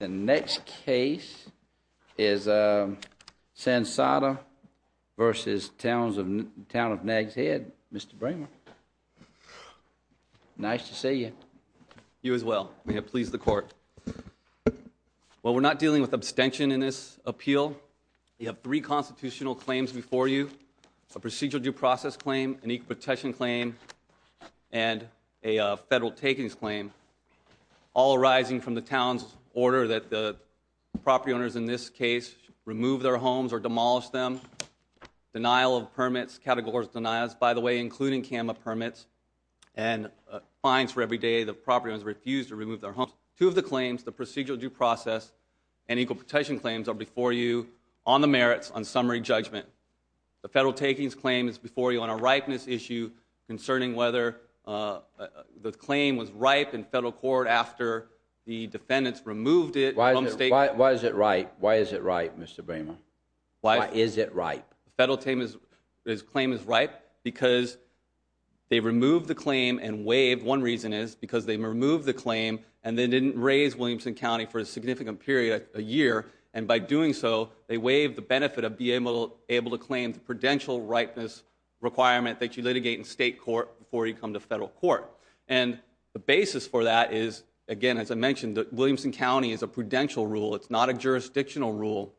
The next case is Sansotta v. Town of Nags Head. Mr. Bramer. Nice to see you. You as well. May it please the court. Well, we're not dealing with abstention in this appeal. We have three constitutional claims before you. A procedural due process claim, an equal protection claim, and a federal takings claim. All arising from the town's order that the property owners in this case remove their homes or demolish them. Denial of permits, categories of denials, by the way, including CAMA permits, and fines for every day the property owners refuse to remove their homes. Two of the claims, the procedural due process and equal protection claims, are before you on the merits on summary judgment. The federal takings claim is before you on a ripeness issue concerning whether the claim was ripe in federal court after the defendants removed it. Why is it ripe? Why is it ripe, Mr. Bramer? Why is it ripe? The federal claim is ripe because they removed the claim and waived. One reason is because they removed the claim and they didn't raise Williamson County for a significant period, a year. And by doing so, they waived the benefit of being able to claim the prudential ripeness requirement that you litigate in state court before you come to federal court. And the basis for that is, again, as I mentioned, that Williamson County is a prudential rule. It's not a jurisdictional rule.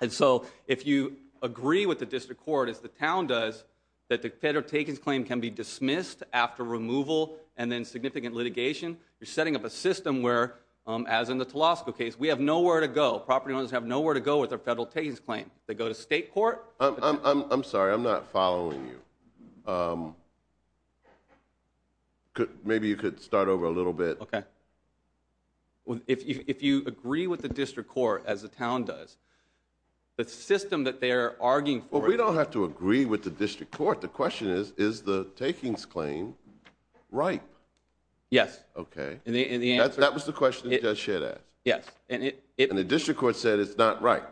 And so if you agree with the district court, as the town does, that the federal takings claim can be dismissed after removal and then significant litigation, you're setting up a system where, as in the Telosco case, we have nowhere to go. Property owners have nowhere to go with their federal takings claim. They go to state court. I'm sorry, I'm not following you. Maybe you could start over a little bit. OK. If you agree with the district court, as the town does, the system that they're arguing for. Well, we don't have to agree with the district court. The question is, is the takings claim ripe? Yes. OK. That was the question that Judge Shedd asked. Yes. And the district court said it's not right.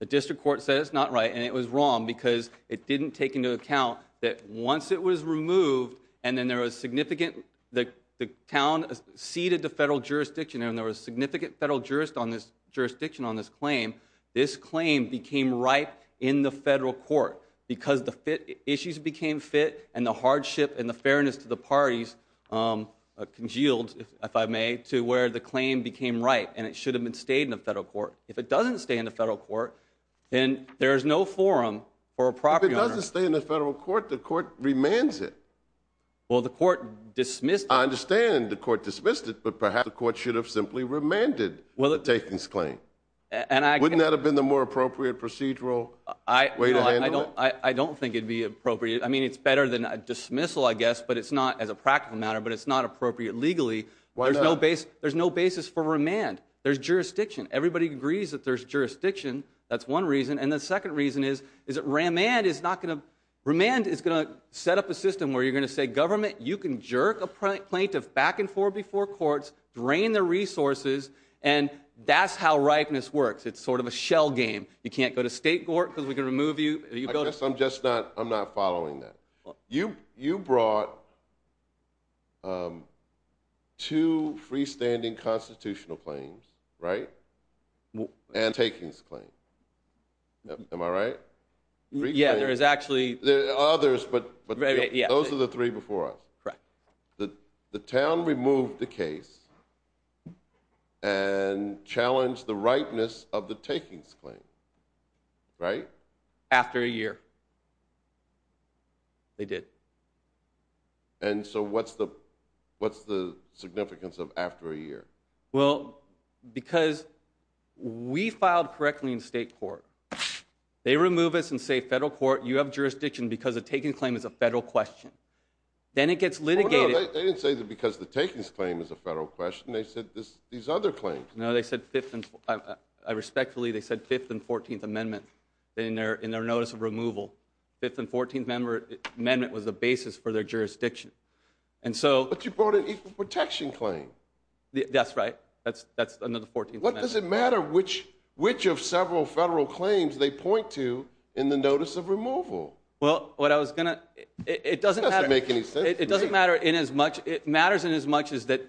The district court said it's not right. And it was wrong because it didn't take into account that once it was removed and then there was significant, the town ceded to federal jurisdiction, and there was significant federal jurisdiction on this claim, this claim became ripe in the federal court because the issues became fit and the hardship and the fairness to the parties congealed, if I may, to where the claim became ripe and it should have been stayed in the federal court. If it doesn't stay in the federal court, then there is no forum for a property owner. If it doesn't stay in the federal court, the court remands it. Well, the court dismissed it. I understand the court dismissed it, but perhaps the court should have simply remanded the takings claim. Wouldn't that have been the more appropriate procedural way to handle it? I don't think it would be appropriate. I mean, it's better than a dismissal, I guess, as a practical matter, but it's not appropriate legally. There's no basis for remand. There's jurisdiction. Everybody agrees that there's jurisdiction. That's one reason. And the second reason is that remand is going to set up a system where you're going to say, government, you can jerk a plaintiff back and forth before courts, drain their resources, and that's how ripeness works. It's sort of a shell game. You can't go to state court because we can remove you. I guess I'm just not following that. You brought two freestanding constitutional claims, right? And takings claim. Am I right? Yeah, there is actually. There are others, but those are the three before us. Correct. The town removed the case and challenged the ripeness of the takings claim, right? After a year. They did. And so what's the significance of after a year? Well, because we filed correctly in state court. They remove us and say, federal court, you have jurisdiction because the takings claim is a federal question. Then it gets litigated. They didn't say because the takings claim is a federal question. They said these other claims. Respectfully, they said 5th and 14th Amendment in their notice of removal. 5th and 14th Amendment was the basis for their jurisdiction. But you brought an equal protection claim. That's right. That's under the 14th Amendment. What does it matter which of several federal claims they point to in the notice of removal? Well, what I was going to. It doesn't matter. It doesn't make any sense. It doesn't matter in as much. It matters in as much as that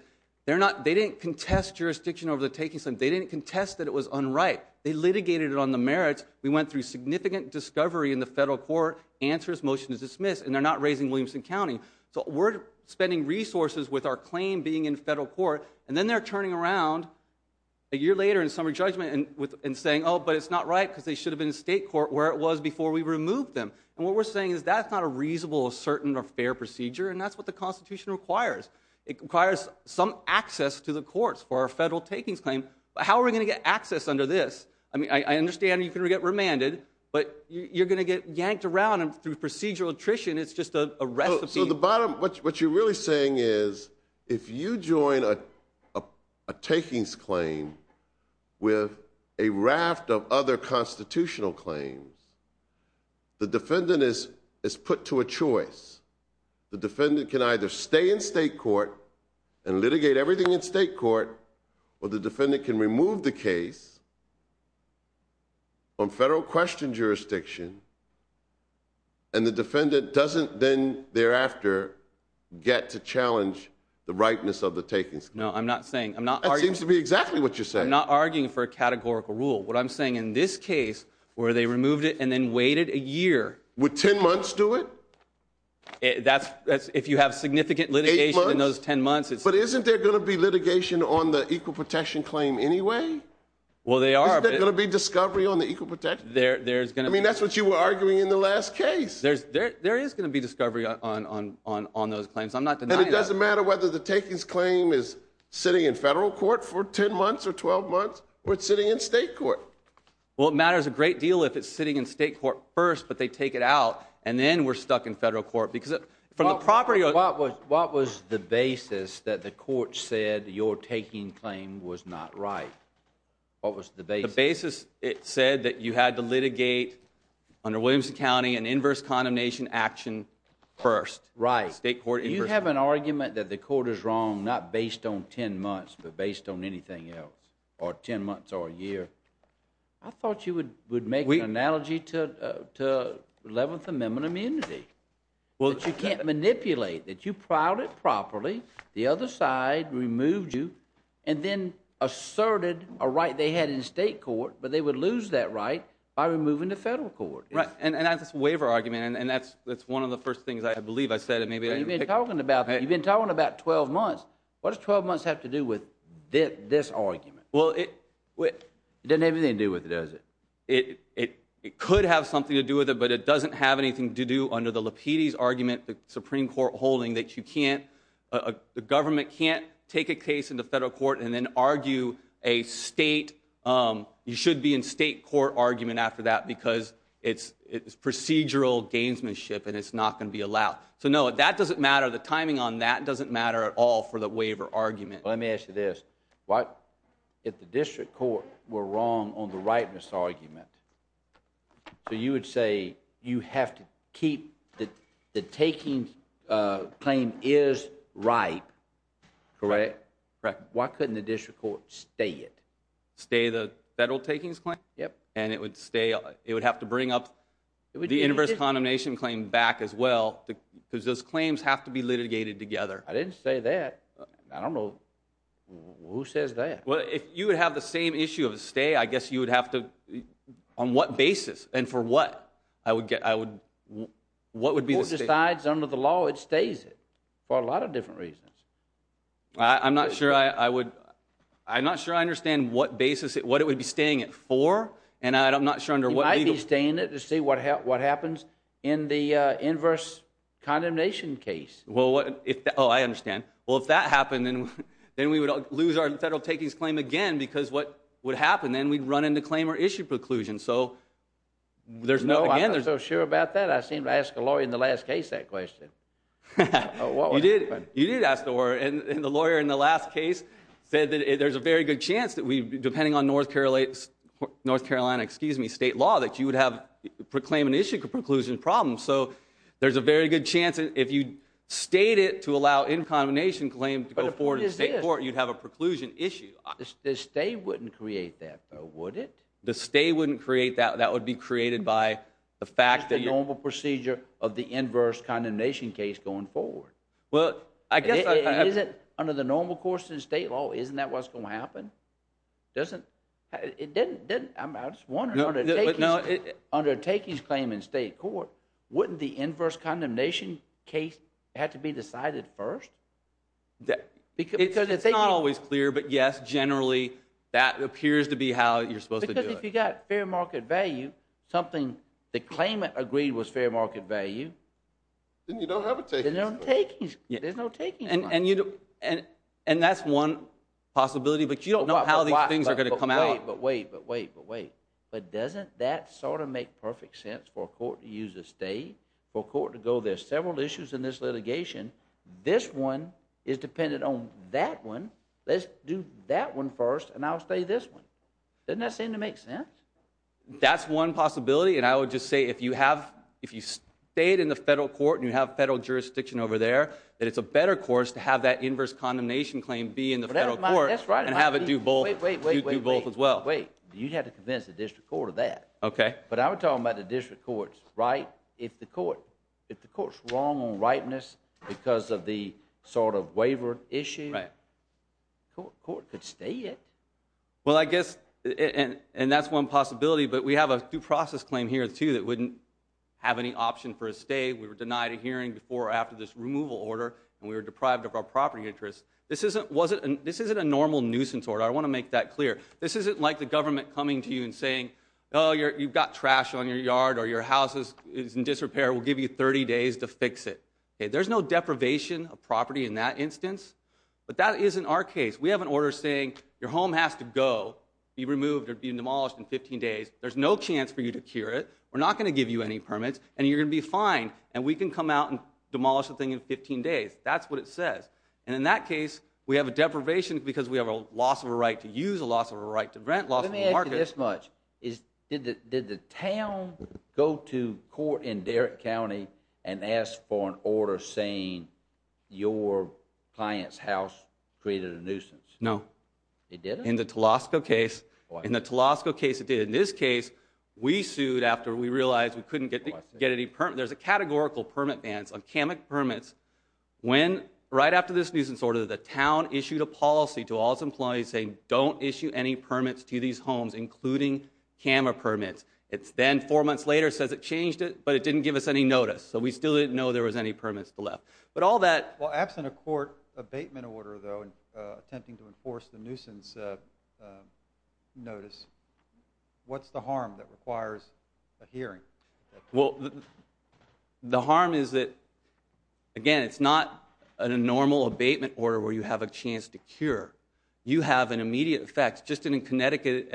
they didn't contest jurisdiction over the takings claim. They didn't contest that it was unright. They litigated it on the merits. We went through significant discovery in the federal court, answers, motion is dismissed, and they're not raising Williamson County. So we're spending resources with our claim being in federal court, and then they're turning around a year later in summary judgment and saying, oh, but it's not right because they should have been in state court where it was before we removed them. And what we're saying is that's not a reasonable, certain, or fair procedure, and that's what the Constitution requires. It requires some access to the courts for our federal takings claim. But how are we going to get access under this? I mean, I understand you can get remanded, but you're going to get yanked around through procedural attrition. It's just a recipe. So the bottom, what you're really saying is if you join a takings claim with a raft of other constitutional claims, the defendant is put to a choice. The defendant can either stay in state court and litigate everything in state court, or the defendant can remove the case on federal question jurisdiction, and the defendant doesn't then thereafter get to challenge the rightness of the takings claim. No, I'm not saying. I'm not arguing. That seems to be exactly what you're saying. I'm not arguing for a categorical rule. What I'm saying in this case where they removed it and then waited a year. Would 10 months do it? That's if you have significant litigation in those 10 months. But isn't there going to be litigation on the equal protection claim anyway? Well, they are. Isn't there going to be discovery on the equal protection? I mean, that's what you were arguing in the last case. There is going to be discovery on those claims. I'm not denying that. And it doesn't matter whether the takings claim is sitting in federal court for 10 months or 12 months, or it's sitting in state court. Well, it matters a great deal if it's sitting in state court first, but they take it out, and then we're stuck in federal court. What was the basis that the court said your taking claim was not right? What was the basis? The basis, it said that you had to litigate under Williamson County an inverse condemnation action first. Right. State court inverse. You have an argument that the court is wrong not based on 10 months, but based on anything else, or 10 months or a year. I thought you would make an analogy to 11th Amendment immunity. That you can't manipulate, that you plowed it properly, the other side removed you, and then asserted a right they had in state court, but they would lose that right by removing the federal court. Right, and that's a waiver argument, and that's one of the first things I believe I said. You've been talking about 12 months. What does 12 months have to do with this argument? Well, it... It doesn't have anything to do with it, does it? It could have something to do with it, but it doesn't have anything to do under the Lapides argument, the Supreme Court holding that you can't, the government can't take a case into federal court and then argue a state, you should be in state court argument after that because it's procedural gamesmanship and it's not going to be allowed. So, no, that doesn't matter. The timing on that doesn't matter at all for the waiver argument. Let me ask you this, if the district court were wrong on the rightness argument, so you would say you have to keep the taking claim is right, correct? Correct. Why couldn't the district court stay it? Stay the federal takings claim? Yep. And it would stay, it would have to bring up the inverse condemnation claim back as well because those claims have to be litigated together. I didn't say that. I don't know who says that. Well, if you would have the same issue of a stay, I guess you would have to, on what basis and for what, I would get, I would, what would be the... The court decides under the law it stays it for a lot of different reasons. I'm not sure I would, I'm not sure I understand what basis, what it would be staying it for and I'm not sure under what legal... You might be staying it to see what happens in the inverse condemnation case. Oh, I understand. Well, if that happened, then we would lose our federal takings claim again because what would happen, then we'd run into claim or issue preclusion. So, there's no... No, I'm not so sure about that. I seemed to ask a lawyer in the last case that question. You did, you did ask the lawyer and the lawyer in the last case said that there's a very good chance that we, depending on North Carolina, excuse me, state law, that you would have claim and issue preclusion problems. So, there's a very good chance that if you stayed it to allow in condemnation claim to go forward in state court, you'd have a preclusion issue. The stay wouldn't create that, though, would it? The stay wouldn't create that, that would be created by the fact that you... That's the normal procedure of the inverse condemnation case going forward. Well, I guess... It isn't under the normal course in state law, isn't that what's going to happen? It doesn't, I'm just wondering, under takings claim in state court, wouldn't the inverse condemnation case have to be decided first? It's not always clear, but yes, generally, that appears to be how you're supposed to do it. Because if you got fair market value, something the claimant agreed was fair market value... Then you don't have a takings claim. Then there's no takings claim. And that's one possibility, but you don't know how these things are going to come out. But wait, but wait, but wait. But doesn't that sort of make perfect sense for a court to use a stay? For a court to go, there's several issues in this litigation. This one is dependent on that one. Let's do that one first, and I'll stay this one. Doesn't that seem to make sense? That's one possibility, and I would just say if you have... To have that inverse condemnation claim be in the federal court and have it do both as well. Wait, you'd have to convince the district court of that. Okay. But I'm talking about the district court's right. If the court's wrong on rightness because of the sort of waiver issue, the court could stay it. Well, I guess, and that's one possibility, but we have a due process claim here, too, that wouldn't have any option for a stay. We were denied a hearing before or after this removal order, and we were deprived of our property interest. This isn't a normal nuisance order. I want to make that clear. This isn't like the government coming to you and saying, oh, you've got trash on your yard or your house is in disrepair. We'll give you 30 days to fix it. There's no deprivation of property in that instance, but that isn't our case. We have an order saying your home has to go, be removed, or be demolished in 15 days. There's no chance for you to cure it. We're not going to give you any permits, and you're going to be fine, and we can come out and demolish the thing in 15 days. That's what it says. And in that case, we have a deprivation because we have a loss of a right to use, a loss of a right to rent, loss of a market. Let me ask you this much. Did the town go to court in Derrick County and ask for an order saying your client's house created a nuisance? No. It didn't? In the Telosco case, it did. In this case, we sued after we realized we couldn't get any permits. There's a categorical permit ban on Kama permits. Right after this nuisance order, the town issued a policy to all its employees saying don't issue any permits to these homes, including Kama permits. It then, four months later, says it changed it, but it didn't give us any notice, so we still didn't know there was any permits left. Well, absent a court abatement order, though, attempting to enforce the nuisance notice, what's the harm that requires a hearing? Well, the harm is that, again, it's not a normal abatement order where you have a chance to cure. You have an immediate effect. Just as in Connecticut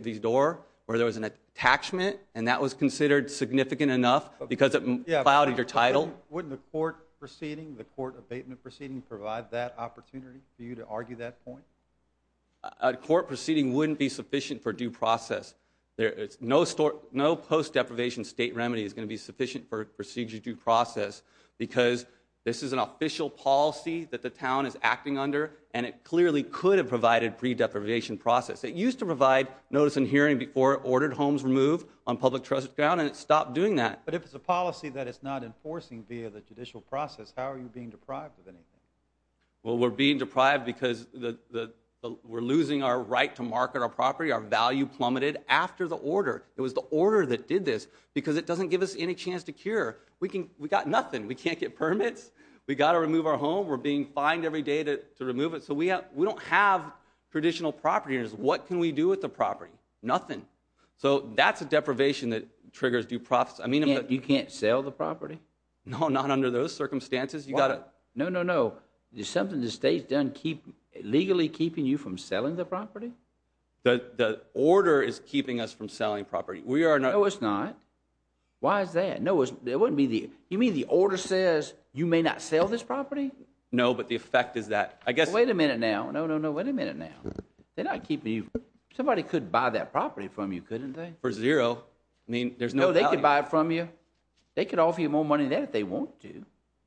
v. Dorr, where there was an attachment, and that was considered significant enough because it clouded your title. Wouldn't a court proceeding, the court abatement proceeding, provide that opportunity for you to argue that point? A court proceeding wouldn't be sufficient for due process. No post-deprivation state remedy is going to be sufficient for procedure due process because this is an official policy that the town is acting under, and it clearly could have provided pre-deprivation process. It used to provide notice and hearing before it ordered homes removed on public trust ground, and it stopped doing that. But if it's a policy that it's not enforcing via the judicial process, how are you being deprived of anything? Well, we're being deprived because we're losing our right to market our property. Our value plummeted after the order. It was the order that did this because it doesn't give us any chance to cure. We got nothing. We can't get permits. We got to remove our home. We're being fined every day to remove it, so we don't have traditional property. What can we do with the property? Nothing. So that's a deprivation that triggers due process. You can't sell the property? No, not under those circumstances. Why? No, no, no. Is something the state's done legally keeping you from selling the property? The order is keeping us from selling property. No, it's not. Why is that? You mean the order says you may not sell this property? No, but the effect is that. Wait a minute now. No, no, no. Wait a minute now. They're not keeping you. Somebody could buy that property from you, couldn't they? For zero. I mean, there's no value. No, they could buy it from you. They could offer you more money than that if they want to.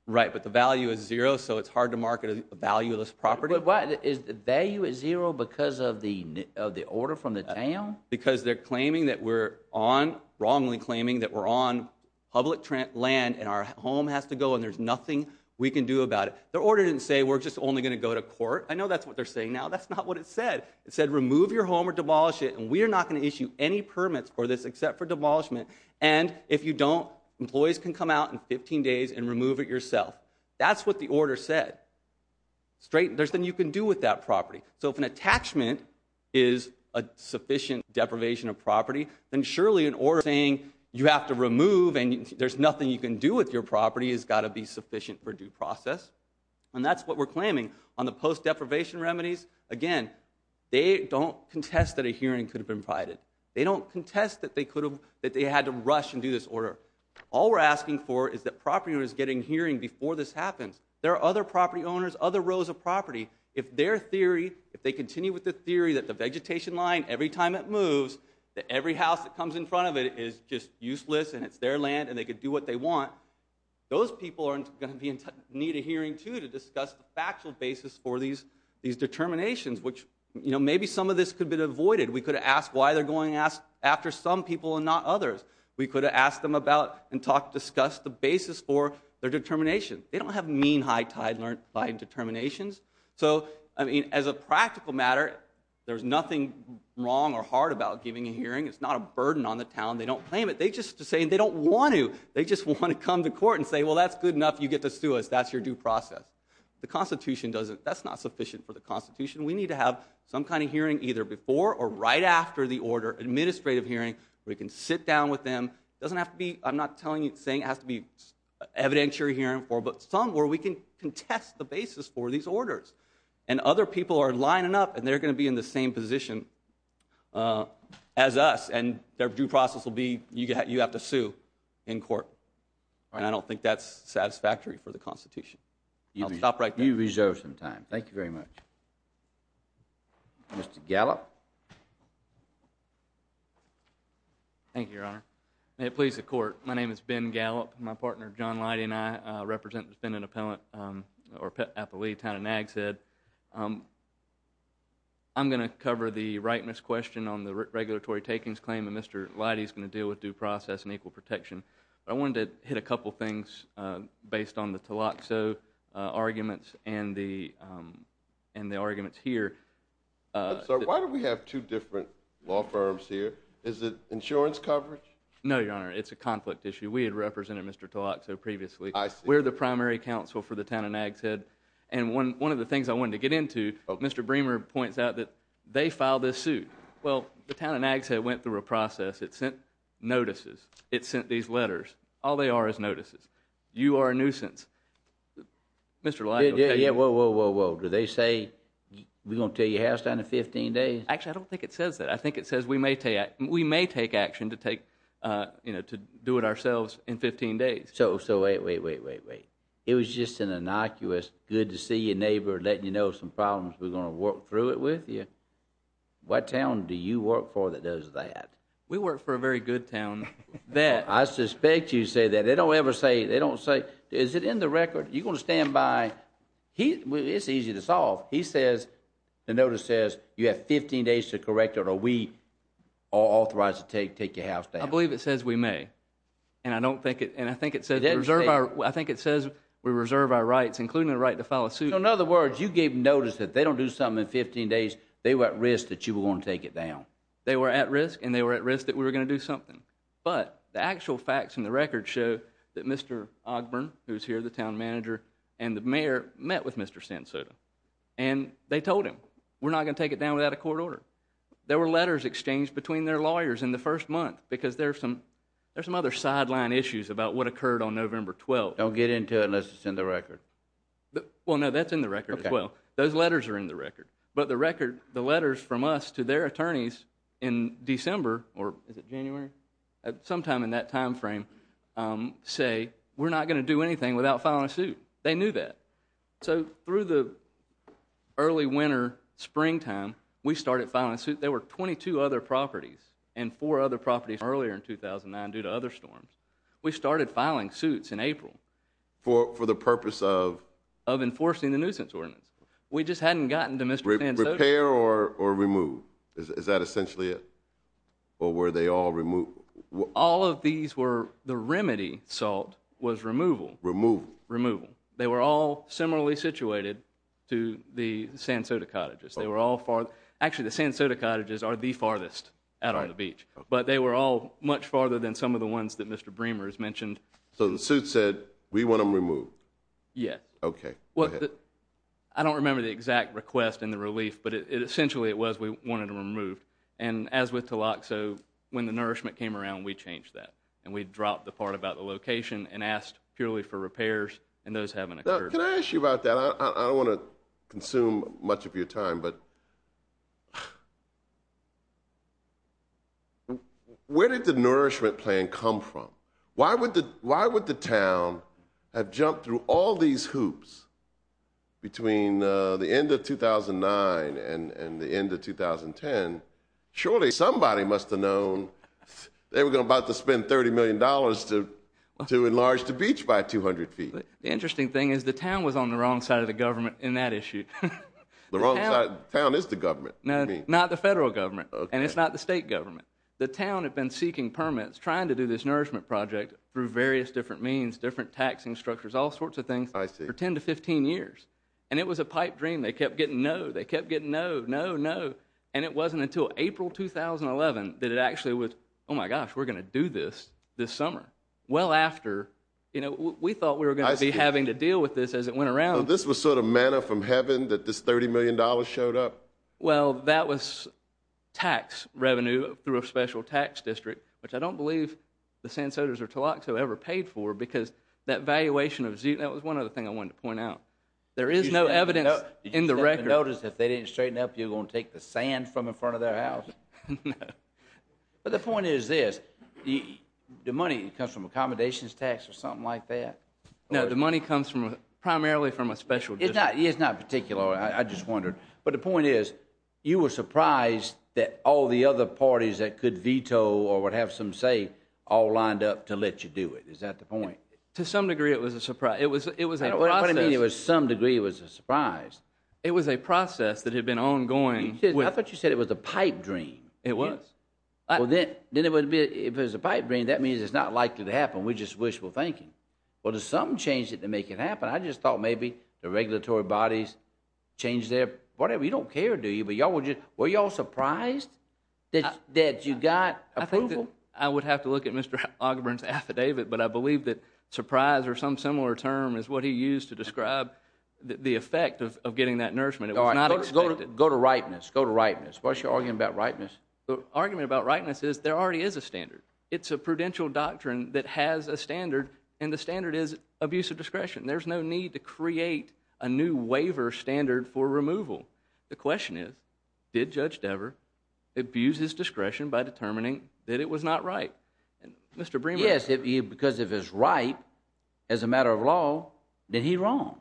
Right, but the value is zero, so it's hard to market a valueless property. But why? Is the value at zero because of the order from the town? Because they're claiming that we're on, wrongly claiming that we're on public land, and our home has to go, and there's nothing we can do about it. The order didn't say we're just only going to go to court. I know that's what they're saying now. That's not what it said. It said remove your home or demolish it, and we are not going to issue any permits for this except for demolishment. And if you don't, employees can come out in 15 days and remove it yourself. That's what the order said. There's nothing you can do with that property. So if an attachment is a sufficient deprivation of property, then surely an order saying you have to remove and there's nothing you can do with your property has got to be sufficient for due process. And that's what we're claiming. On the post-deprivation remedies, again, they don't contest that a hearing could have been provided. They don't contest that they had to rush and do this order. All we're asking for is that property owners get a hearing before this happens. There are other property owners, other rows of property. If their theory, if they continue with the theory that the vegetation line, every time it moves, that every house that comes in front of it is just useless and it's their land and they can do what they want, those people are going to need a hearing too to discuss the factual basis for these determinations, which maybe some of this could have been avoided. We could have asked why they're going after some people and not others. We could have asked them about and discussed the basis for their determination. They don't have mean high tide line determinations. So as a practical matter, there's nothing wrong or hard about giving a hearing. It's not a burden on the town. They don't claim it. They just say they don't want to. They just want to come to court and say, well, that's good enough. You get to sue us. That's your due process. The Constitution doesn't. That's not sufficient for the Constitution. We need to have some kind of hearing either before or right after the order, administrative hearing, where we can sit down with them. It doesn't have to be, I'm not saying it has to be evidentiary hearing, but somewhere we can contest the basis for these orders. And other people are lining up, and they're going to be in the same position as us, and their due process will be you have to sue in court. And I don't think that's satisfactory for the Constitution. I'll stop right there. You reserve some time. Thank you very much. Mr. Gallup. Thank you, Your Honor. May it please the Court. My name is Ben Gallup. My partner, John Leidy, and I represent defendant appellate town of Nags Head. I'm going to cover the rightness question on the regulatory takings claim, and Mr. Leidy is going to deal with due process and equal protection. But I wanted to hit a couple things based on the Tlaxo arguments and the arguments here. I'm sorry. Why do we have two different law firms here? Is it insurance coverage? No, Your Honor. It's a conflict issue. We had represented Mr. Tlaxo previously. I see. We're the primary counsel for the town of Nags Head. And one of the things I wanted to get into, Mr. Bremer points out that they filed this suit. Well, the town of Nags Head went through a process. It sent notices. It sent these letters. All they are is notices. You are a nuisance. Mr. Leidy will tell you. Whoa, whoa, whoa, whoa. Do they say we're going to tell your house down in 15 days? Actually, I don't think it says that. I think it says we may take action to do it ourselves in 15 days. So wait, wait, wait, wait, wait. It was just an innocuous good-to-see-your-neighbor-letting-you-know-some-problems-we're-going-to-work-through-it-with-you. What town do you work for that does that? We work for a very good town. I suspect you say that. They don't ever say. They don't say. Is it in the record? You're going to stand by. It's easy to solve. The notice says you have 15 days to correct it or we are authorized to take your house down. I believe it says we may. And I think it says we reserve our rights, including the right to file a suit. So in other words, you gave notice that they don't do something in 15 days. They were at risk that you were going to take it down. They were at risk, and they were at risk that we were going to do something. But the actual facts in the record show that Mr. Ogburn, who is here, the town manager, and the mayor met with Mr. Sentosa. And they told him, we're not going to take it down without a court order. There were letters exchanged between their lawyers in the first month because there are some other sideline issues about what occurred on November 12th. Don't get into it unless it's in the record. Well, no, that's in the record as well. Those letters are in the record. But the record, the letters from us to their attorneys in December or is it January, sometime in that time frame, say, we're not going to do anything without filing a suit. They knew that. So through the early winter, springtime, we started filing suits. There were 22 other properties and four other properties earlier in 2009 due to other storms. We started filing suits in April. For the purpose of? Of enforcing the nuisance ordinance. We just hadn't gotten to Mr. Sentosa. Repair or remove? Is that essentially it? Or were they all removed? All of these were, the remedy, Salt, was removal. Removal. Removal. They were all similarly situated to the San Soto cottages. They were all far. Actually, the San Soto cottages are the farthest out on the beach. But they were all much farther than some of the ones that Mr. Bremer has mentioned. So the suit said, we want them removed. Yes. Okay. Go ahead. I don't remember the exact request and the relief, but essentially it was we wanted them removed. And as with Tilak, so when the nourishment came around, we changed that. And we dropped the part about the location and asked purely for repairs. And those haven't occurred. Can I ask you about that? I don't want to consume much of your time, but where did the nourishment plan come from? Why would the town have jumped through all these hoops between the end of 2009 and the end of 2010? Surely somebody must have known. They were about to spend $30 million to enlarge the beach by 200 feet. The interesting thing is the town was on the wrong side of the government in that issue. The wrong side? The town is the government? No, not the federal government. And it's not the state government. The town had been seeking permits, trying to do this nourishment project through various different means, different taxing structures, all sorts of things for 10 to 15 years. And it was a pipe dream. They kept getting no. They kept getting no, no, no. And it wasn't until April 2011 that it actually was, oh my gosh, we're going to do this this summer. Well after, you know, we thought we were going to be having to deal with this as it went around. So this was sort of manna from heaven that this $30 million showed up? Well, that was tax revenue through a special tax district, which I don't believe the Sans Sotos or Tlaxo ever paid for because that valuation of Z, that was one other thing I wanted to point out. There is no evidence in the record. Did you notice if they didn't straighten up, you were going to take the sand from in front of their house? No. But the point is this. The money comes from accommodations tax or something like that? No, the money comes primarily from a special district. It's not particular. I just wondered. But the point is you were surprised that all the other parties that could veto or would have some say all lined up to let you do it. Is that the point? To some degree it was a surprise. It was a process. What do you mean it was some degree it was a surprise? It was a process that had been ongoing. I thought you said it was a pipe dream. It was. If it was a pipe dream, that means it's not likely to happen. We just wishful thinking. Well, did something change to make it happen? I just thought maybe the regulatory bodies changed their whatever. You don't care, do you? Were you all surprised that you got approval? I would have to look at Mr. Ogburn's affidavit, but I believe that surprise or some similar term is what he used to describe the effect of getting that nourishment. It was not expected. Go to rightness. Go to rightness. What's your argument about rightness? The argument about rightness is there already is a standard. It's a prudential doctrine that has a standard, and the standard is abuse of discretion. There's no need to create a new waiver standard for removal. The question is did Judge Dever abuse his discretion by determining that it was not right? Yes, because if it's right as a matter of law, then he's wrong.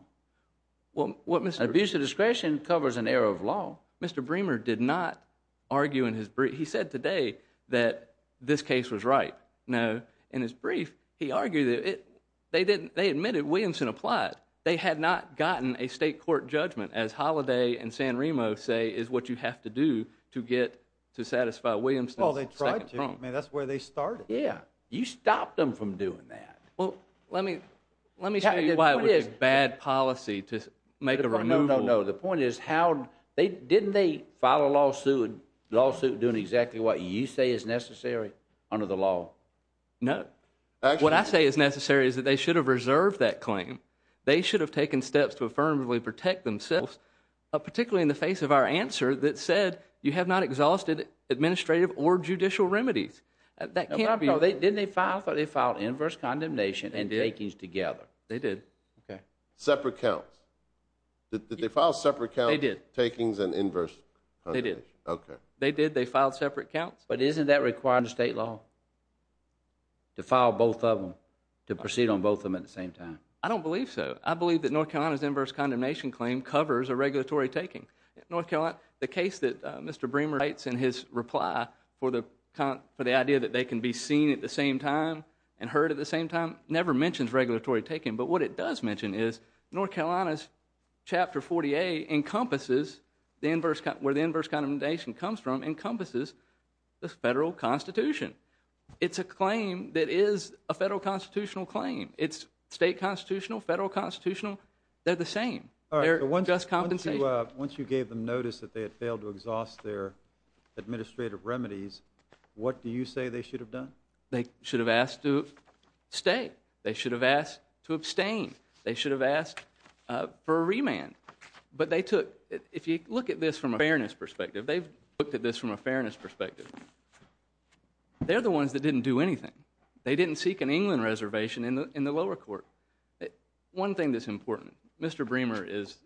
Abuse of discretion covers an error of law. Mr. Bremer did not argue in his brief. He said today that this case was right. No. In his brief, he argued that they admitted Williamson applied. They had not gotten a state court judgment, as Holliday and San Remo say, is what you have to do to satisfy Williamson's second prong. I mean, that's where they started. Yeah. You stopped them from doing that. Well, let me tell you why it was a bad policy to make a removal. No, no, no. The point is how didn't they file a lawsuit doing exactly what you say is necessary under the law? No. What I say is necessary is that they should have reserved that claim. They should have taken steps to affirmably protect themselves, particularly in the face of our answer that said you have not exhausted administrative or judicial remedies. Didn't they file? I thought they filed inverse condemnation and takings together. They did. Okay. Separate counts. Did they file separate counts? They did. Takings and inverse condemnation. They did. Okay. They did. They filed separate counts. But isn't that required in state law to file both of them, to proceed on both of them at the same time? I don't believe so. I believe that North Carolina's inverse condemnation claim covers a regulatory taking. The case that Mr. Bremer writes in his reply for the idea that they can be seen at the same time and heard at the same time never mentions regulatory taking. But what it does mention is North Carolina's Chapter 40A encompasses where the inverse condemnation comes from encompasses the federal constitution. It's a claim that is a federal constitutional claim. It's state constitutional, federal constitutional. They're the same. Once you gave them notice that they had failed to exhaust their administrative remedies, what do you say they should have done? They should have asked to stay. They should have asked to abstain. They should have asked for a remand. But they took, if you look at this from a fairness perspective, they've looked at this from a fairness perspective. They're the ones that didn't do anything. They didn't seek an England reservation in the lower court. One thing that's important. Mr. Bremer is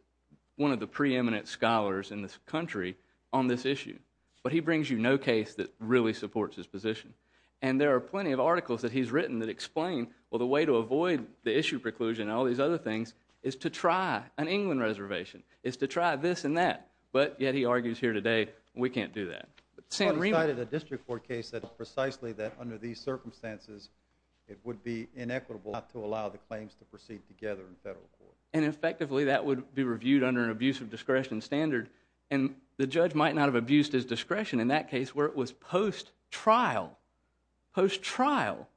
one of the preeminent scholars in this country on this issue. But he brings you no case that really supports his position. And there are plenty of articles that he's written that explain, well, the way to avoid the issue preclusion and all these other things is to try an England reservation, is to try this and that. But yet he argues here today, we can't do that. The district court case said precisely that under these circumstances it would be inequitable not to allow the claims to proceed together in federal court. And effectively that would be reviewed under an abuse of discretion standard. And the judge might not have abused his discretion in that case where it was post-trial. Post-trial.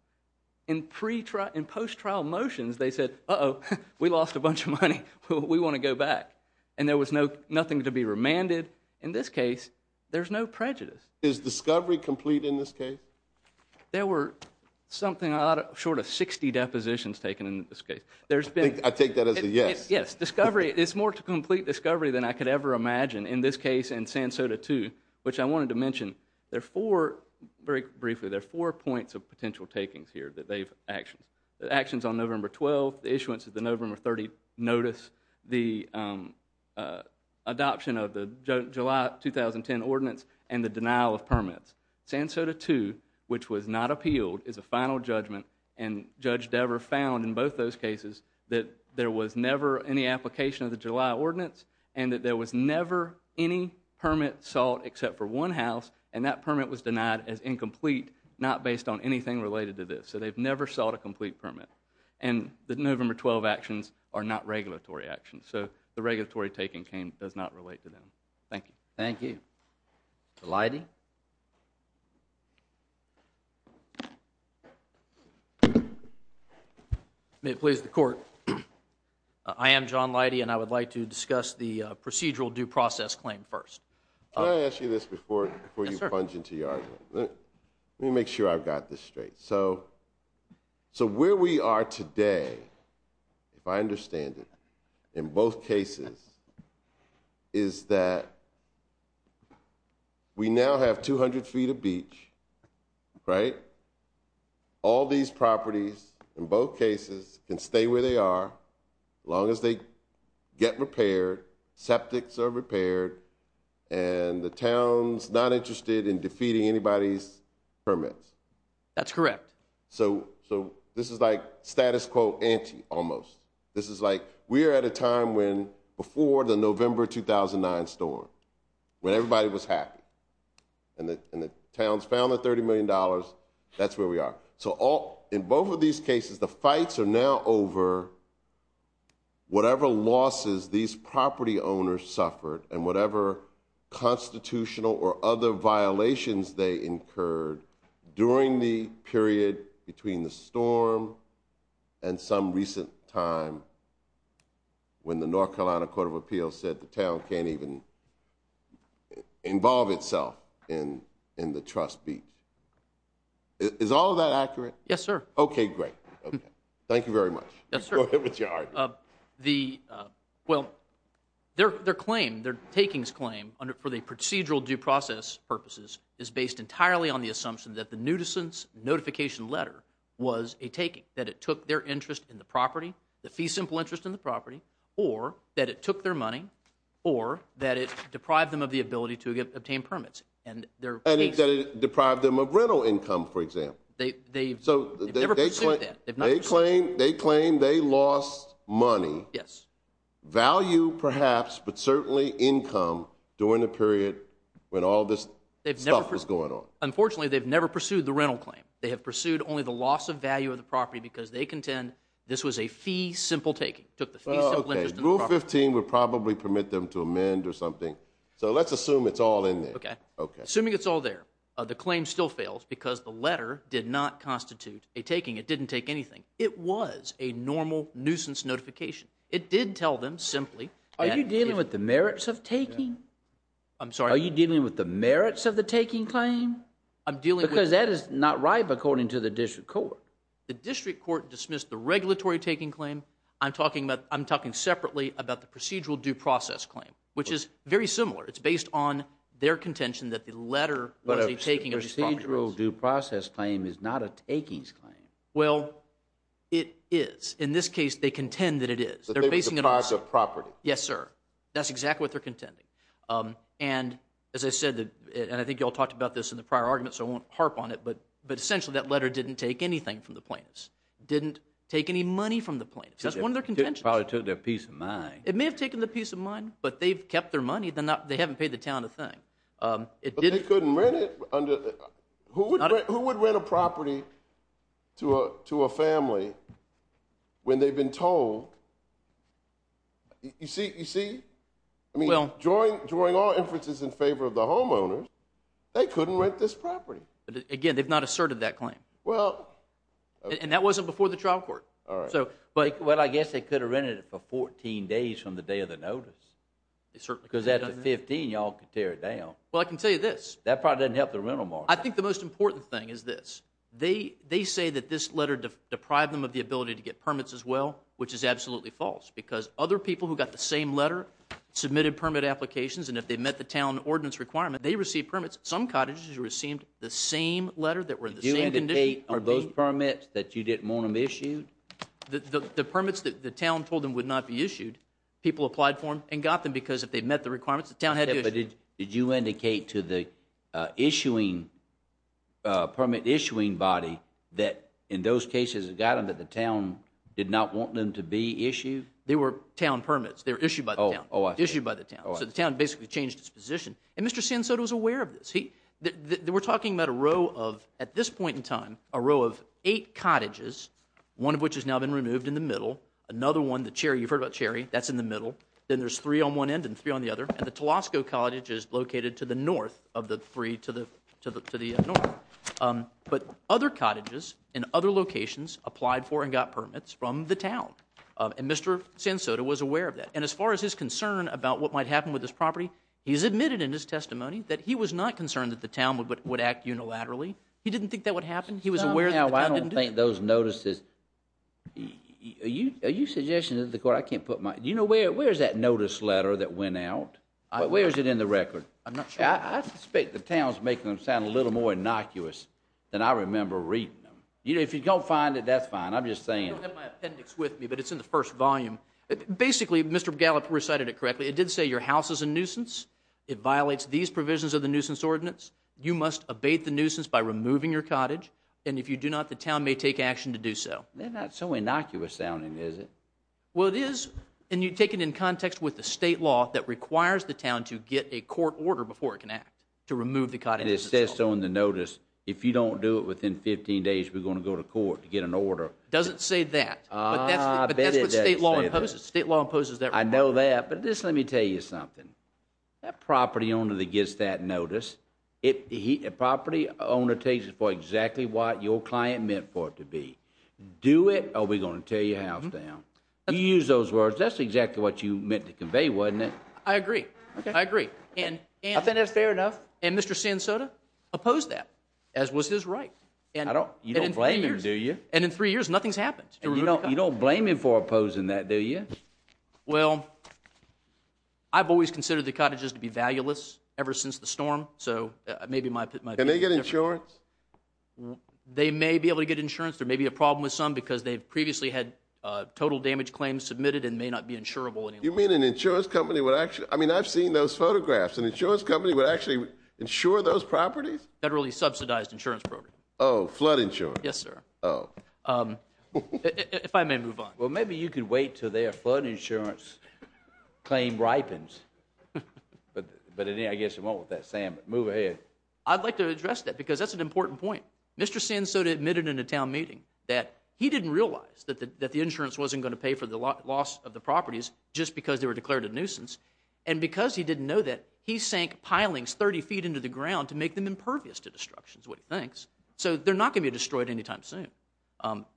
In post-trial motions they said, uh-oh, we lost a bunch of money. We want to go back. And there was nothing to be remanded. In this case, there's no prejudice. Is discovery complete in this case? There were something short of 60 depositions taken in this case. I take that as a yes. Yes, discovery. It's more to complete discovery than I could ever imagine in this case and San Soto too, which I wanted to mention. Very briefly, there are four points of potential takings here that they've actioned. The adoption of the July 2010 ordinance and the denial of permits. San Soto too, which was not appealed, is a final judgment. And Judge Dever found in both those cases that there was never any application of the July ordinance and that there was never any permit sought except for one house. And that permit was denied as incomplete, not based on anything related to this. So they've never sought a complete permit. And the November 12 actions are not regulatory actions. So the regulatory taking does not relate to them. Thank you. Thank you. Leidy? May it please the Court. I am John Leidy, and I would like to discuss the procedural due process claim first. Can I ask you this before you plunge into your argument? Let me make sure I've got this straight. So where we are today, if I understand it, in both cases, is that we now have 200 feet of beach, right? All these properties, in both cases, can stay where they are as long as they get repaired, septics are repaired, and the town's not interested in defeating anybody's permits. That's correct. So this is like status quo ante almost. This is like we are at a time when, before the November 2009 storm, when everybody was happy and the town's found the $30 million, that's where we are. So in both of these cases, the fights are now over whatever losses these property owners suffered and whatever constitutional or other violations they incurred during the period between the storm and some recent time when the North Carolina Court of Appeals said the town can't even involve itself in the trust beach. Is all of that accurate? Yes, sir. Okay, great. Thank you very much. Yes, sir. Go ahead with your argument. Well, their claim, their takings claim, for the procedural due process purposes, is based entirely on the assumption that the nuisance notification letter was a taking, that it took their interest in the property, the fee simple interest in the property, or that it took their money, or that it deprived them of the ability to obtain permits. And that it deprived them of rental income, for example. They've never pursued that. They claim they lost money. Yes. Value, perhaps, but certainly income during the period when all this stuff was going on. Unfortunately, they've never pursued the rental claim. They have pursued only the loss of value of the property because they contend this was a fee simple taking, took the fee simple interest in the property. Rule 15 would probably permit them to amend or something. So let's assume it's all in there. Okay. It was a normal nuisance notification. It did tell them simply. Are you dealing with the merits of taking? I'm sorry? Are you dealing with the merits of the taking claim? Because that is not right according to the district court. The district court dismissed the regulatory taking claim. I'm talking separately about the procedural due process claim, which is very similar. It's based on their contention that the letter was a taking of these properties. The procedural due process claim is not a takings claim. Well, it is. In this case, they contend that it is. That they were deprived of property. Yes, sir. That's exactly what they're contending. And as I said, and I think you all talked about this in the prior argument, so I won't harp on it, but essentially that letter didn't take anything from the plaintiffs. It didn't take any money from the plaintiffs. That's one of their contentions. It probably took their peace of mind. It may have taken their peace of mind, but they've kept their money. They haven't paid the town a thing. But they couldn't rent it. Who would rent a property to a family when they've been told? You see? During all inferences in favor of the homeowners, they couldn't rent this property. Again, they've not asserted that claim. And that wasn't before the trial court. Well, I guess they could have rented it for 14 days from the day of the notice. Because after 15, you all could tear it down. Well, I can tell you this. That probably doesn't help the rental market. I think the most important thing is this. They say that this letter deprived them of the ability to get permits as well, which is absolutely false because other people who got the same letter submitted permit applications, and if they met the town ordinance requirement, they received permits. Some cottages received the same letter that were in the same condition. Did you indicate those permits that you didn't want them issued? The permits that the town told them would not be issued, people applied for them and got them because if they met the requirements, the town had to issue them. Did you indicate to the permit-issuing body that in those cases it got them, that the town did not want them to be issued? They were town permits. They were issued by the town. Oh, I see. So the town basically changed its position. And Mr. Sansoda was aware of this. We're talking about a row of, at this point in time, a row of eight cottages, one of which has now been removed in the middle, another one, the Cherry, you've heard about Cherry, that's in the middle, then there's three on one end and three on the other, and the Telosco Cottage is located to the north of the three to the north. But other cottages in other locations applied for and got permits from the town, and Mr. Sansoda was aware of that. And as far as his concern about what might happen with this property, he's admitted in his testimony that he was not concerned that the town would act unilaterally. He didn't think that would happen. I don't think those notices, are you suggesting to the court, I can't put my, you know, where is that notice letter that went out? Where is it in the record? I'm not sure. I suspect the town's making them sound a little more innocuous than I remember reading them. If you don't find it, that's fine. I'm just saying. I don't have my appendix with me, but it's in the first volume. Basically, Mr. Gallup recited it correctly. It did say your house is a nuisance. It violates these provisions of the nuisance ordinance. You must abate the nuisance by removing your cottage, and if you do not, the town may take action to do so. They're not so innocuous sounding, is it? Well, it is. And you take it in context with the state law that requires the town to get a court order before it can act to remove the cottage. And it says on the notice, if you don't do it within 15 days, we're going to go to court to get an order. It doesn't say that. Ah, I bet it doesn't say that. But that's what state law imposes. State law imposes that requirement. I know that, but just let me tell you something. That property owner that gets that notice, a property owner takes it for exactly what your client meant for it to be. Do it, or we're going to tear your house down. You used those words. That's exactly what you meant to convey, wasn't it? I agree. Okay. I agree. I think that's fair enough. And Mr. Sansoda opposed that, as was his right. You don't blame him, do you? And in three years, nothing's happened. You don't blame him for opposing that, do you? Well, I've always considered the cottages to be valueless ever since the storm, so maybe my opinion is different. Can they get insurance? They may be able to get insurance. There may be a problem with some because they've previously had total damage claims submitted and may not be insurable anymore. You mean an insurance company would actually – I mean, I've seen those photographs. An insurance company would actually insure those properties? Federally subsidized insurance program. Oh, flood insurance. Yes, sir. Oh. If I may move on. Well, maybe you could wait until their flood insurance claim ripens. But I guess it won't with that, Sam. Move ahead. I'd like to address that because that's an important point. Mr. Sansoda admitted in a town meeting that he didn't realize that the insurance wasn't going to pay for the loss of the properties just because they were declared a nuisance. And because he didn't know that, he sank pilings 30 feet into the ground to make them impervious to destruction, is what he thinks. So they're not going to be destroyed anytime soon.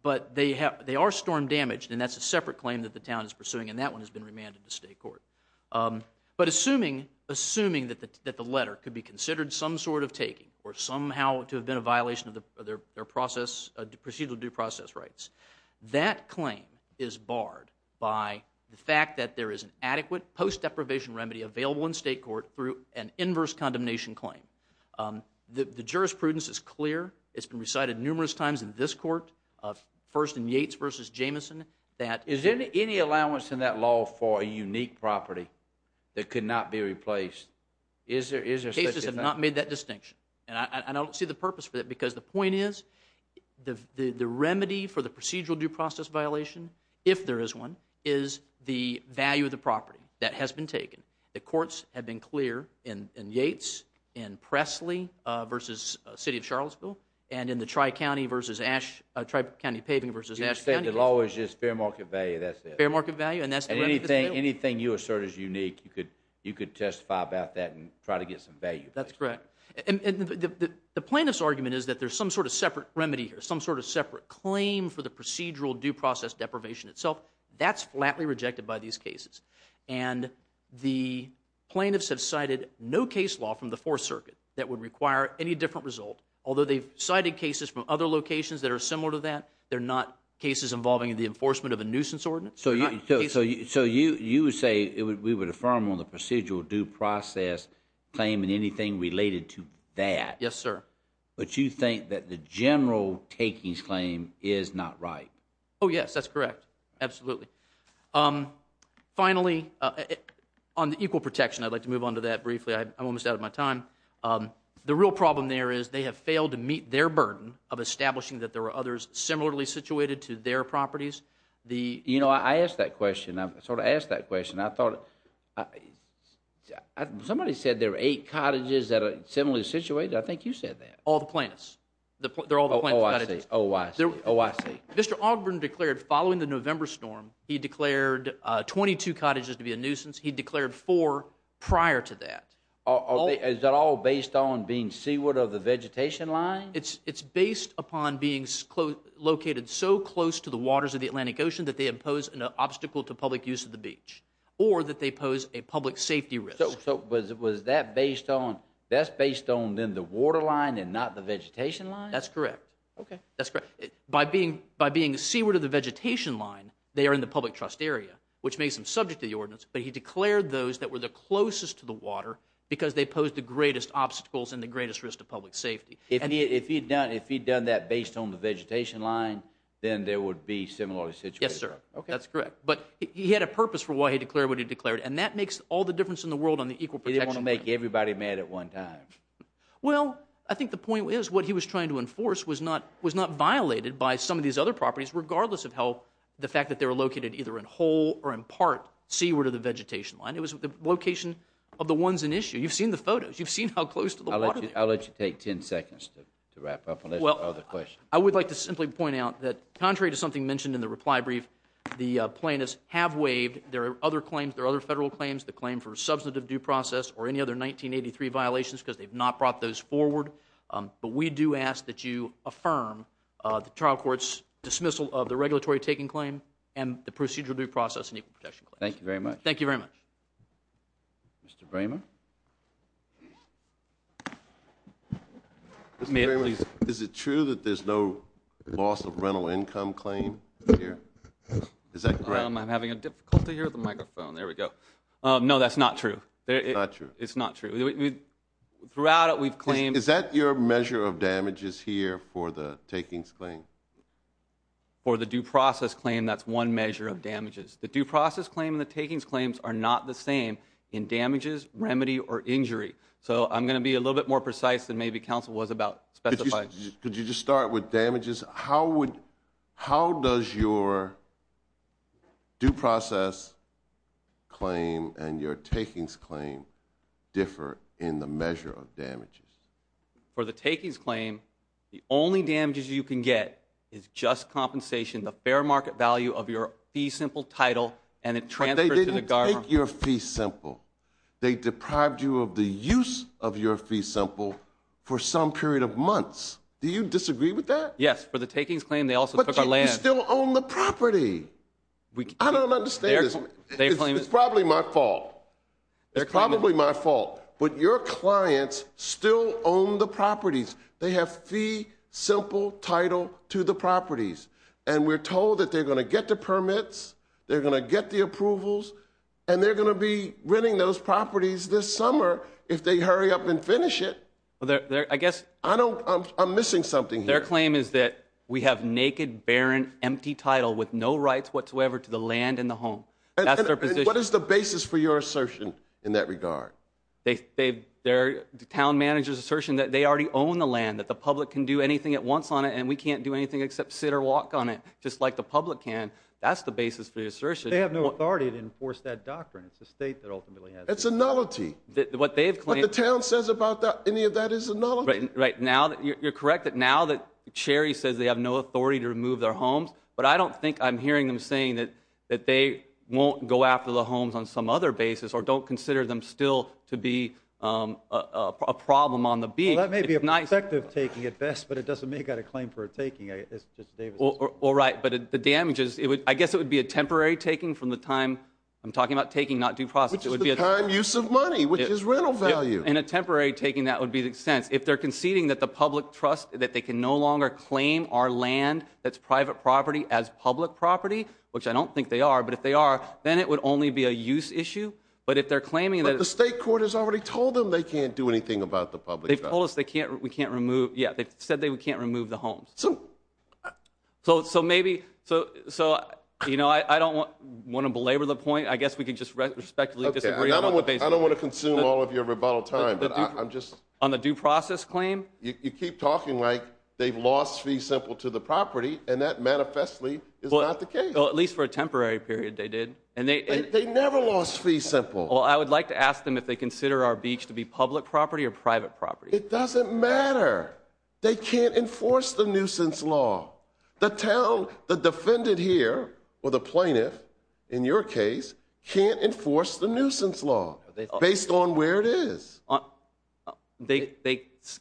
But they are storm damaged, and that's a separate claim that the town is pursuing, and that one has been remanded to state court. But assuming that the letter could be considered some sort of taking or somehow to have been a violation of their procedural due process rights, that claim is barred by the fact that there is an adequate post-deprivation remedy available in state court through an inverse condemnation claim. The jurisprudence is clear. It's been recited numerous times in this court, first in Yates v. Jamieson. Is there any allowance in that law for a unique property that could not be replaced? Cases have not made that distinction. And I don't see the purpose for that because the point is the remedy for the procedural due process violation, if there is one, is the value of the property that has been taken. The courts have been clear in Yates, in Presley v. City of Charlottesville, and in the Tri-County Paving v. Ashe County. You're saying the law is just fair market value, that's it? Fair market value, and that's the remedy. Anything you assert is unique, you could testify about that and try to get some value. That's correct. And the plaintiff's argument is that there's some sort of separate remedy here, some sort of separate claim for the procedural due process deprivation itself. That's flatly rejected by these cases. And the plaintiffs have cited no case law from the Fourth Circuit that would require any different result. Although they've cited cases from other locations that are similar to that, they're not cases involving the enforcement of a nuisance ordinance. So you would say we would affirm on the procedural due process claim and anything related to that. Yes, sir. But you think that the general takings claim is not right. Oh, yes, that's correct. Absolutely. Finally, on the equal protection, I'd like to move on to that briefly. I'm almost out of my time. The real problem there is they have failed to meet their burden of establishing that there are others similarly situated to their properties. You know, I asked that question. I sort of asked that question. I thought somebody said there were eight cottages that are similarly situated. I think you said that. All the plaintiffs. They're all the plaintiffs. Oh, I see. Oh, I see. Mr. Ogburn declared following the November storm, he declared 22 cottages to be a nuisance. He declared four prior to that. Is that all based on being seaward of the vegetation line? It's based upon being located so close to the waters of the Atlantic Ocean that they impose an obstacle to public use of the beach or that they pose a public safety risk. So was that based on then the water line and not the vegetation line? That's correct. Okay. That's correct. By being seaward of the vegetation line, they are in the public trust area, which makes them subject to the ordinance. But he declared those that were the closest to the water because they posed the greatest obstacles and the greatest risk to public safety. If he had done that based on the vegetation line, then there would be similarly situated. Yes, sir. That's correct. But he had a purpose for why he declared what he declared, and that makes all the difference in the world on the equal protection. He didn't want to make everybody mad at one time. Well, I think the point is what he was trying to enforce was not violated by some of these other properties, regardless of how the fact that they were located either in whole or in part seaward of the vegetation line. It was the location of the ones in issue. You've seen the photos. You've seen how close to the water they are. I'll let you take 10 seconds to wrap up unless there are other questions. I would like to simply point out that contrary to something mentioned in the reply brief, the plaintiffs have waived their other claims, the claim for substantive due process or any other 1983 violations because they've not brought those forward. But we do ask that you affirm the trial court's dismissal of the regulatory taking claim and the procedural due process and equal protection claim. Thank you very much. Thank you very much. Mr. Bramer? Is it true that there's no loss of rental income claim here? Is that correct? I'm having a difficulty here with the microphone. There we go. No, that's not true. It's not true. It's not true. Throughout it, we've claimed. Is that your measure of damages here for the takings claim? For the due process claim, that's one measure of damages. The due process claim and the takings claims are not the same in damages, remedy, or injury. So I'm going to be a little bit more precise than maybe counsel was about specifying. Could you just start with damages? How does your due process claim and your takings claim differ in the measure of damages? For the takings claim, the only damages you can get is just compensation, the fair market value of your fee simple title and it transfers to the government. But they didn't take your fee simple. They deprived you of the use of your fee simple for some period of months. Do you disagree with that? Yes. For the takings claim, they also took our land. But you still own the property. I don't understand this. It's probably my fault. It's probably my fault. But your clients still own the properties. They have fee simple title to the properties. And we're told that they're going to get the permits, they're going to get the approvals, and they're going to be renting those properties this summer if they hurry up and finish it. I guess. I'm missing something here. Their claim is that we have naked, barren, empty title with no rights whatsoever to the land and the home. That's their position. What is the basis for your assertion in that regard? Their town manager's assertion that they already own the land, that the public can do anything it wants on it and we can't do anything except sit or walk on it just like the public can. That's the basis for the assertion. They have no authority to enforce that doctrine. It's the state that ultimately has it. It's a nullity. What the town says about any of that is a nullity. You're correct that now that Cherry says they have no authority to remove their homes, but I don't think I'm hearing them saying that they won't go after the homes on some other basis or don't consider them still to be a problem on the beach. That may be a perspective taking at best, but it doesn't make out a claim for a taking. All right. But the damages, I guess it would be a temporary taking from the time I'm talking about taking not due process. Which is the time use of money, which is rental value. And a temporary taking that would be the sense if they're conceding that the public trust that they can no longer claim our land. That's private property as public property, which I don't think they are. But if they are, then it would only be a use issue. But if they're claiming that the state court has already told them they can't do anything about the public. They've told us they can't. We can't remove. Yeah, they said they can't remove the homes. So, so, so maybe. So, so, you know, I don't want to belabor the point. I guess we could just respectfully disagree. I don't want to consume all of your rebuttal time, but I'm just on the due process claim. You keep talking like they've lost fee simple to the property, and that manifestly is not the case, at least for a temporary period. They did, and they never lost fee simple. Well, I would like to ask them if they consider our beach to be public property or private property. It doesn't matter. They can't enforce the nuisance law. The town, the defendant here, or the plaintiff, in your case, can't enforce the nuisance law based on where it is. They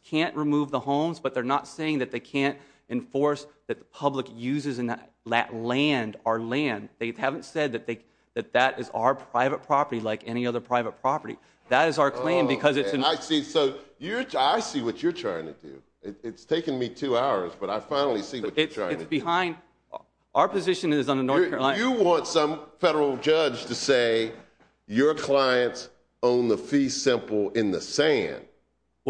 can't remove the homes, but they're not saying that they can't enforce that the public uses in that land, our land. They haven't said that that is our private property like any other private property. That is our claim because it's in. I see. So I see what you're trying to do. It's taken me two hours, but I finally see what you're trying to do. It's behind. Our position is on the North Carolina. You want some federal judge to say your clients own the fee simple in the sand.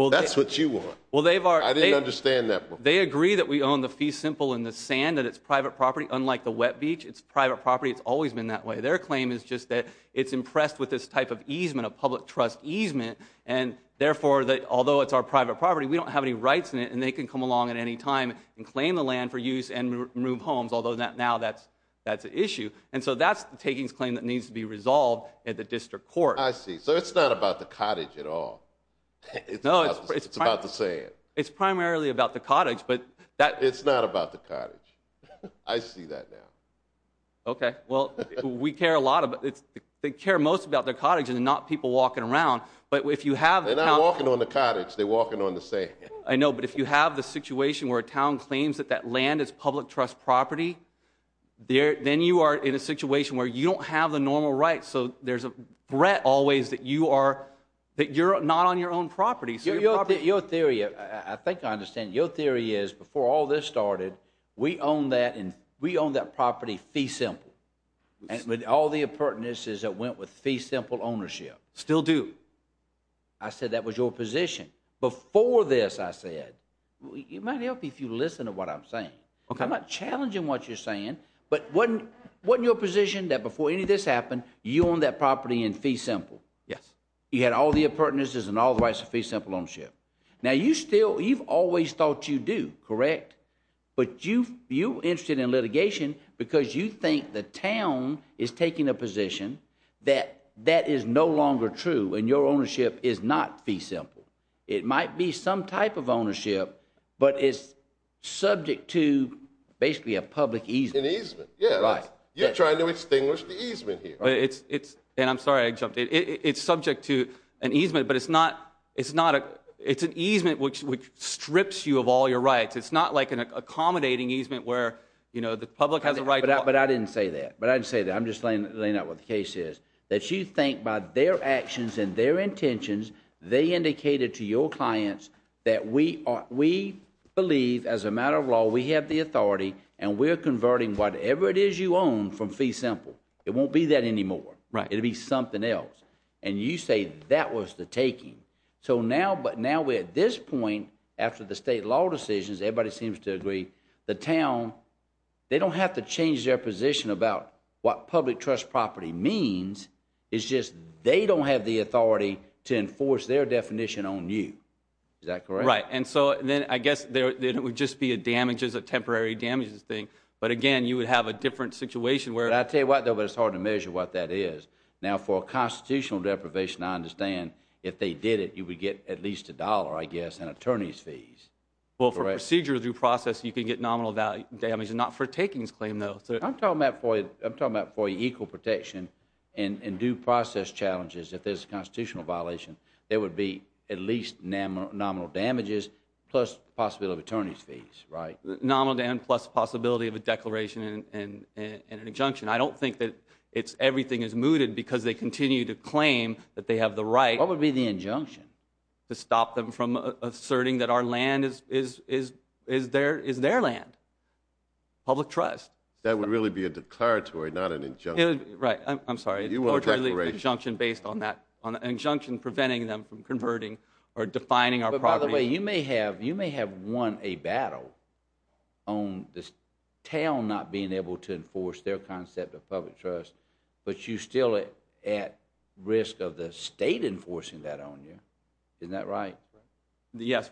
That's what you want. I didn't understand that before. They agree that we own the fee simple in the sand, that it's private property. Unlike the wet beach, it's private property. It's always been that way. Their claim is just that it's impressed with this type of easement, a public trust easement, and therefore, although it's our private property, we don't have any rights in it, and they can come along at any time and claim the land for use and remove homes, although now that's an issue. And so that's the takings claim that needs to be resolved at the district court. I see. So it's not about the cottage at all. It's about the sand. It's primarily about the cottage. It's not about the cottage. I see that now. Okay. Well, we care a lot about it. They care most about their cottage and not people walking around. They're not walking on the cottage. They're walking on the sand. I know, but if you have the situation where a town claims that that land is public trust property, then you are in a situation where you don't have the normal rights. So there's a threat always that you're not on your own property. Your theory, I think I understand. Your theory is before all this started, we owned that property fee simple with all the appurtenances that went with fee simple ownership. Still do. I said that was your position. Before this, I said, it might help if you listen to what I'm saying. Okay. I'm not challenging what you're saying, but wasn't your position that before any of this happened, you owned that property in fee simple? Yes. You had all the appurtenances and all the rights of fee simple ownership. Now, you've always thought you do, correct? But you're interested in litigation because you think the town is taking a position that that is no longer true and your ownership is not fee simple. It might be some type of ownership, but it's subject to basically a public easement. An easement. Yeah. Right. You're trying to extinguish the easement here. And I'm sorry I jumped in. It's subject to an easement, but it's an easement which strips you of all your rights. It's not like an accommodating easement where the public has a right. But I didn't say that. But I didn't say that. I'm just laying out what the case is. That you think by their actions and their intentions, they indicated to your clients that we believe as a matter of law, we have the authority, and we're converting whatever it is you own from fee simple. It won't be that anymore. Right. It'll be something else. And you say that was the taking. So now we're at this point after the state law decisions, everybody seems to agree, the town, they don't have to change their position about what public trust property means. It's just they don't have the authority to enforce their definition on you. Is that correct? Right. And so then I guess it would just be a damages, a temporary damages thing. But again, you would have a different situation where it's hard to measure what that is. Now, for a constitutional deprivation, I understand if they did it, you would get at least a dollar, I guess, in attorney's fees. Well, for procedural due process, you could get nominal damage, not for takings claim, though. I'm talking about for equal protection and due process challenges if there's a constitutional violation. There would be at least nominal damages plus possibility of attorney's fees, right? Nominal damage plus possibility of a declaration and an injunction. I don't think that everything is mooted because they continue to claim that they have the right. What would be the injunction? To stop them from asserting that our land is their land, public trust. That would really be a declaratory, not an injunction. Right. I'm sorry. You want a declaration. An injunction based on that, an injunction preventing them from converting or defining our property. By the way, you may have won a battle on the town not being able to enforce their concept of public trust, but you're still at risk of the state enforcing that on you. Isn't that right? Yes,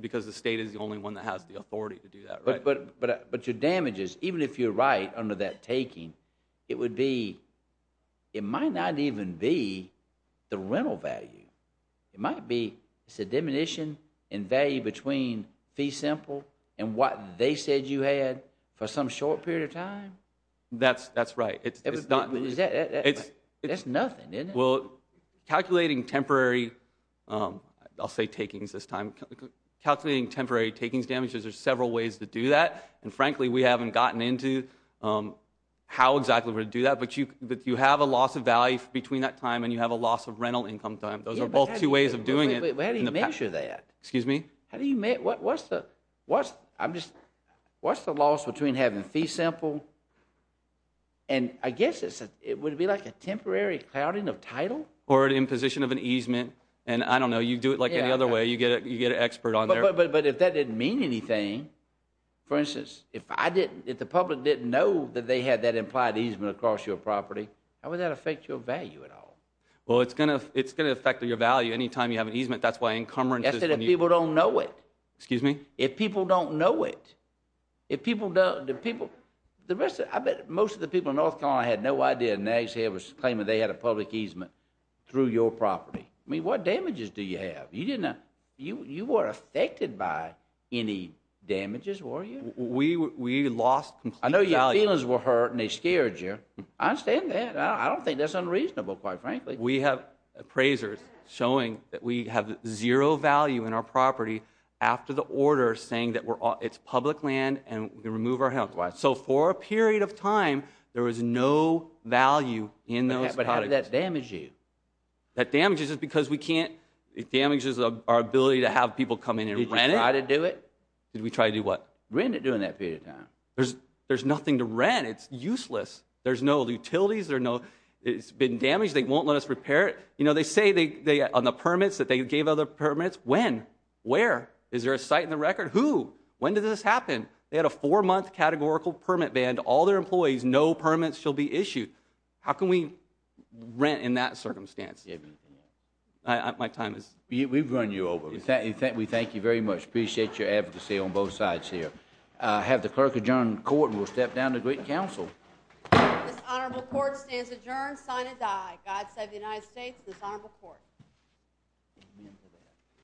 because the state is the only one that has the authority to do that, right? But your damages, even if you're right under that taking, it might not even be the rental value. It might be it's a diminution in value between fee simple and what they said you had for some short period of time. That's right. That's nothing, isn't it? Well, calculating temporary, I'll say takings this time. Calculating temporary takings damages, there's several ways to do that, and frankly we haven't gotten into how exactly we're going to do that, but you have a loss of value between that time and you have a loss of rental income time. Those are both two ways of doing it. How do you measure that? Excuse me? What's the loss between having fee simple and I guess it would be like a temporary clouding of title? Or an imposition of an easement, and I don't know. You do it like any other way. You get an expert on there. But if that didn't mean anything, for instance, if the public didn't know that they had that implied easement across your property, how would that affect your value at all? Well, it's going to affect your value any time you have an easement. That's why encumbrance is when you – That's if people don't know it. Excuse me? If people don't know it. If people don't – the people – the rest of – I bet most of the people in North Carolina had no idea Nags Head was claiming they had a public easement through your property. I mean, what damages do you have? You didn't – you weren't affected by any damages, were you? We lost complete value. I know your feelings were hurt and they scared you. I understand that. I don't think that's unreasonable, quite frankly. We have appraisers showing that we have zero value in our property after the order saying that it's public land and we can remove our health. So for a period of time, there was no value in those – But how did that damage you? That damages us because we can't – it damages our ability to have people come in and rent it. Did you try to do it? Did we try to do what? Rent it during that period of time. There's nothing to rent. It's useless. There's no utilities. There's no – it's been damaged. They won't let us repair it. You know, they say on the permits that they gave other permits. When? Where? Is there a site in the record? Who? When did this happen? They had a four-month categorical permit ban to all their employees. No permits shall be issued. How can we rent in that circumstance? Do you have anything else? My time is – We've run you over. We thank you very much. Appreciate your advocacy on both sides here. I have the clerk adjourn the court and we'll step down to great counsel. This honorable court stands adjourned, sign and die. God save the United States and this honorable court.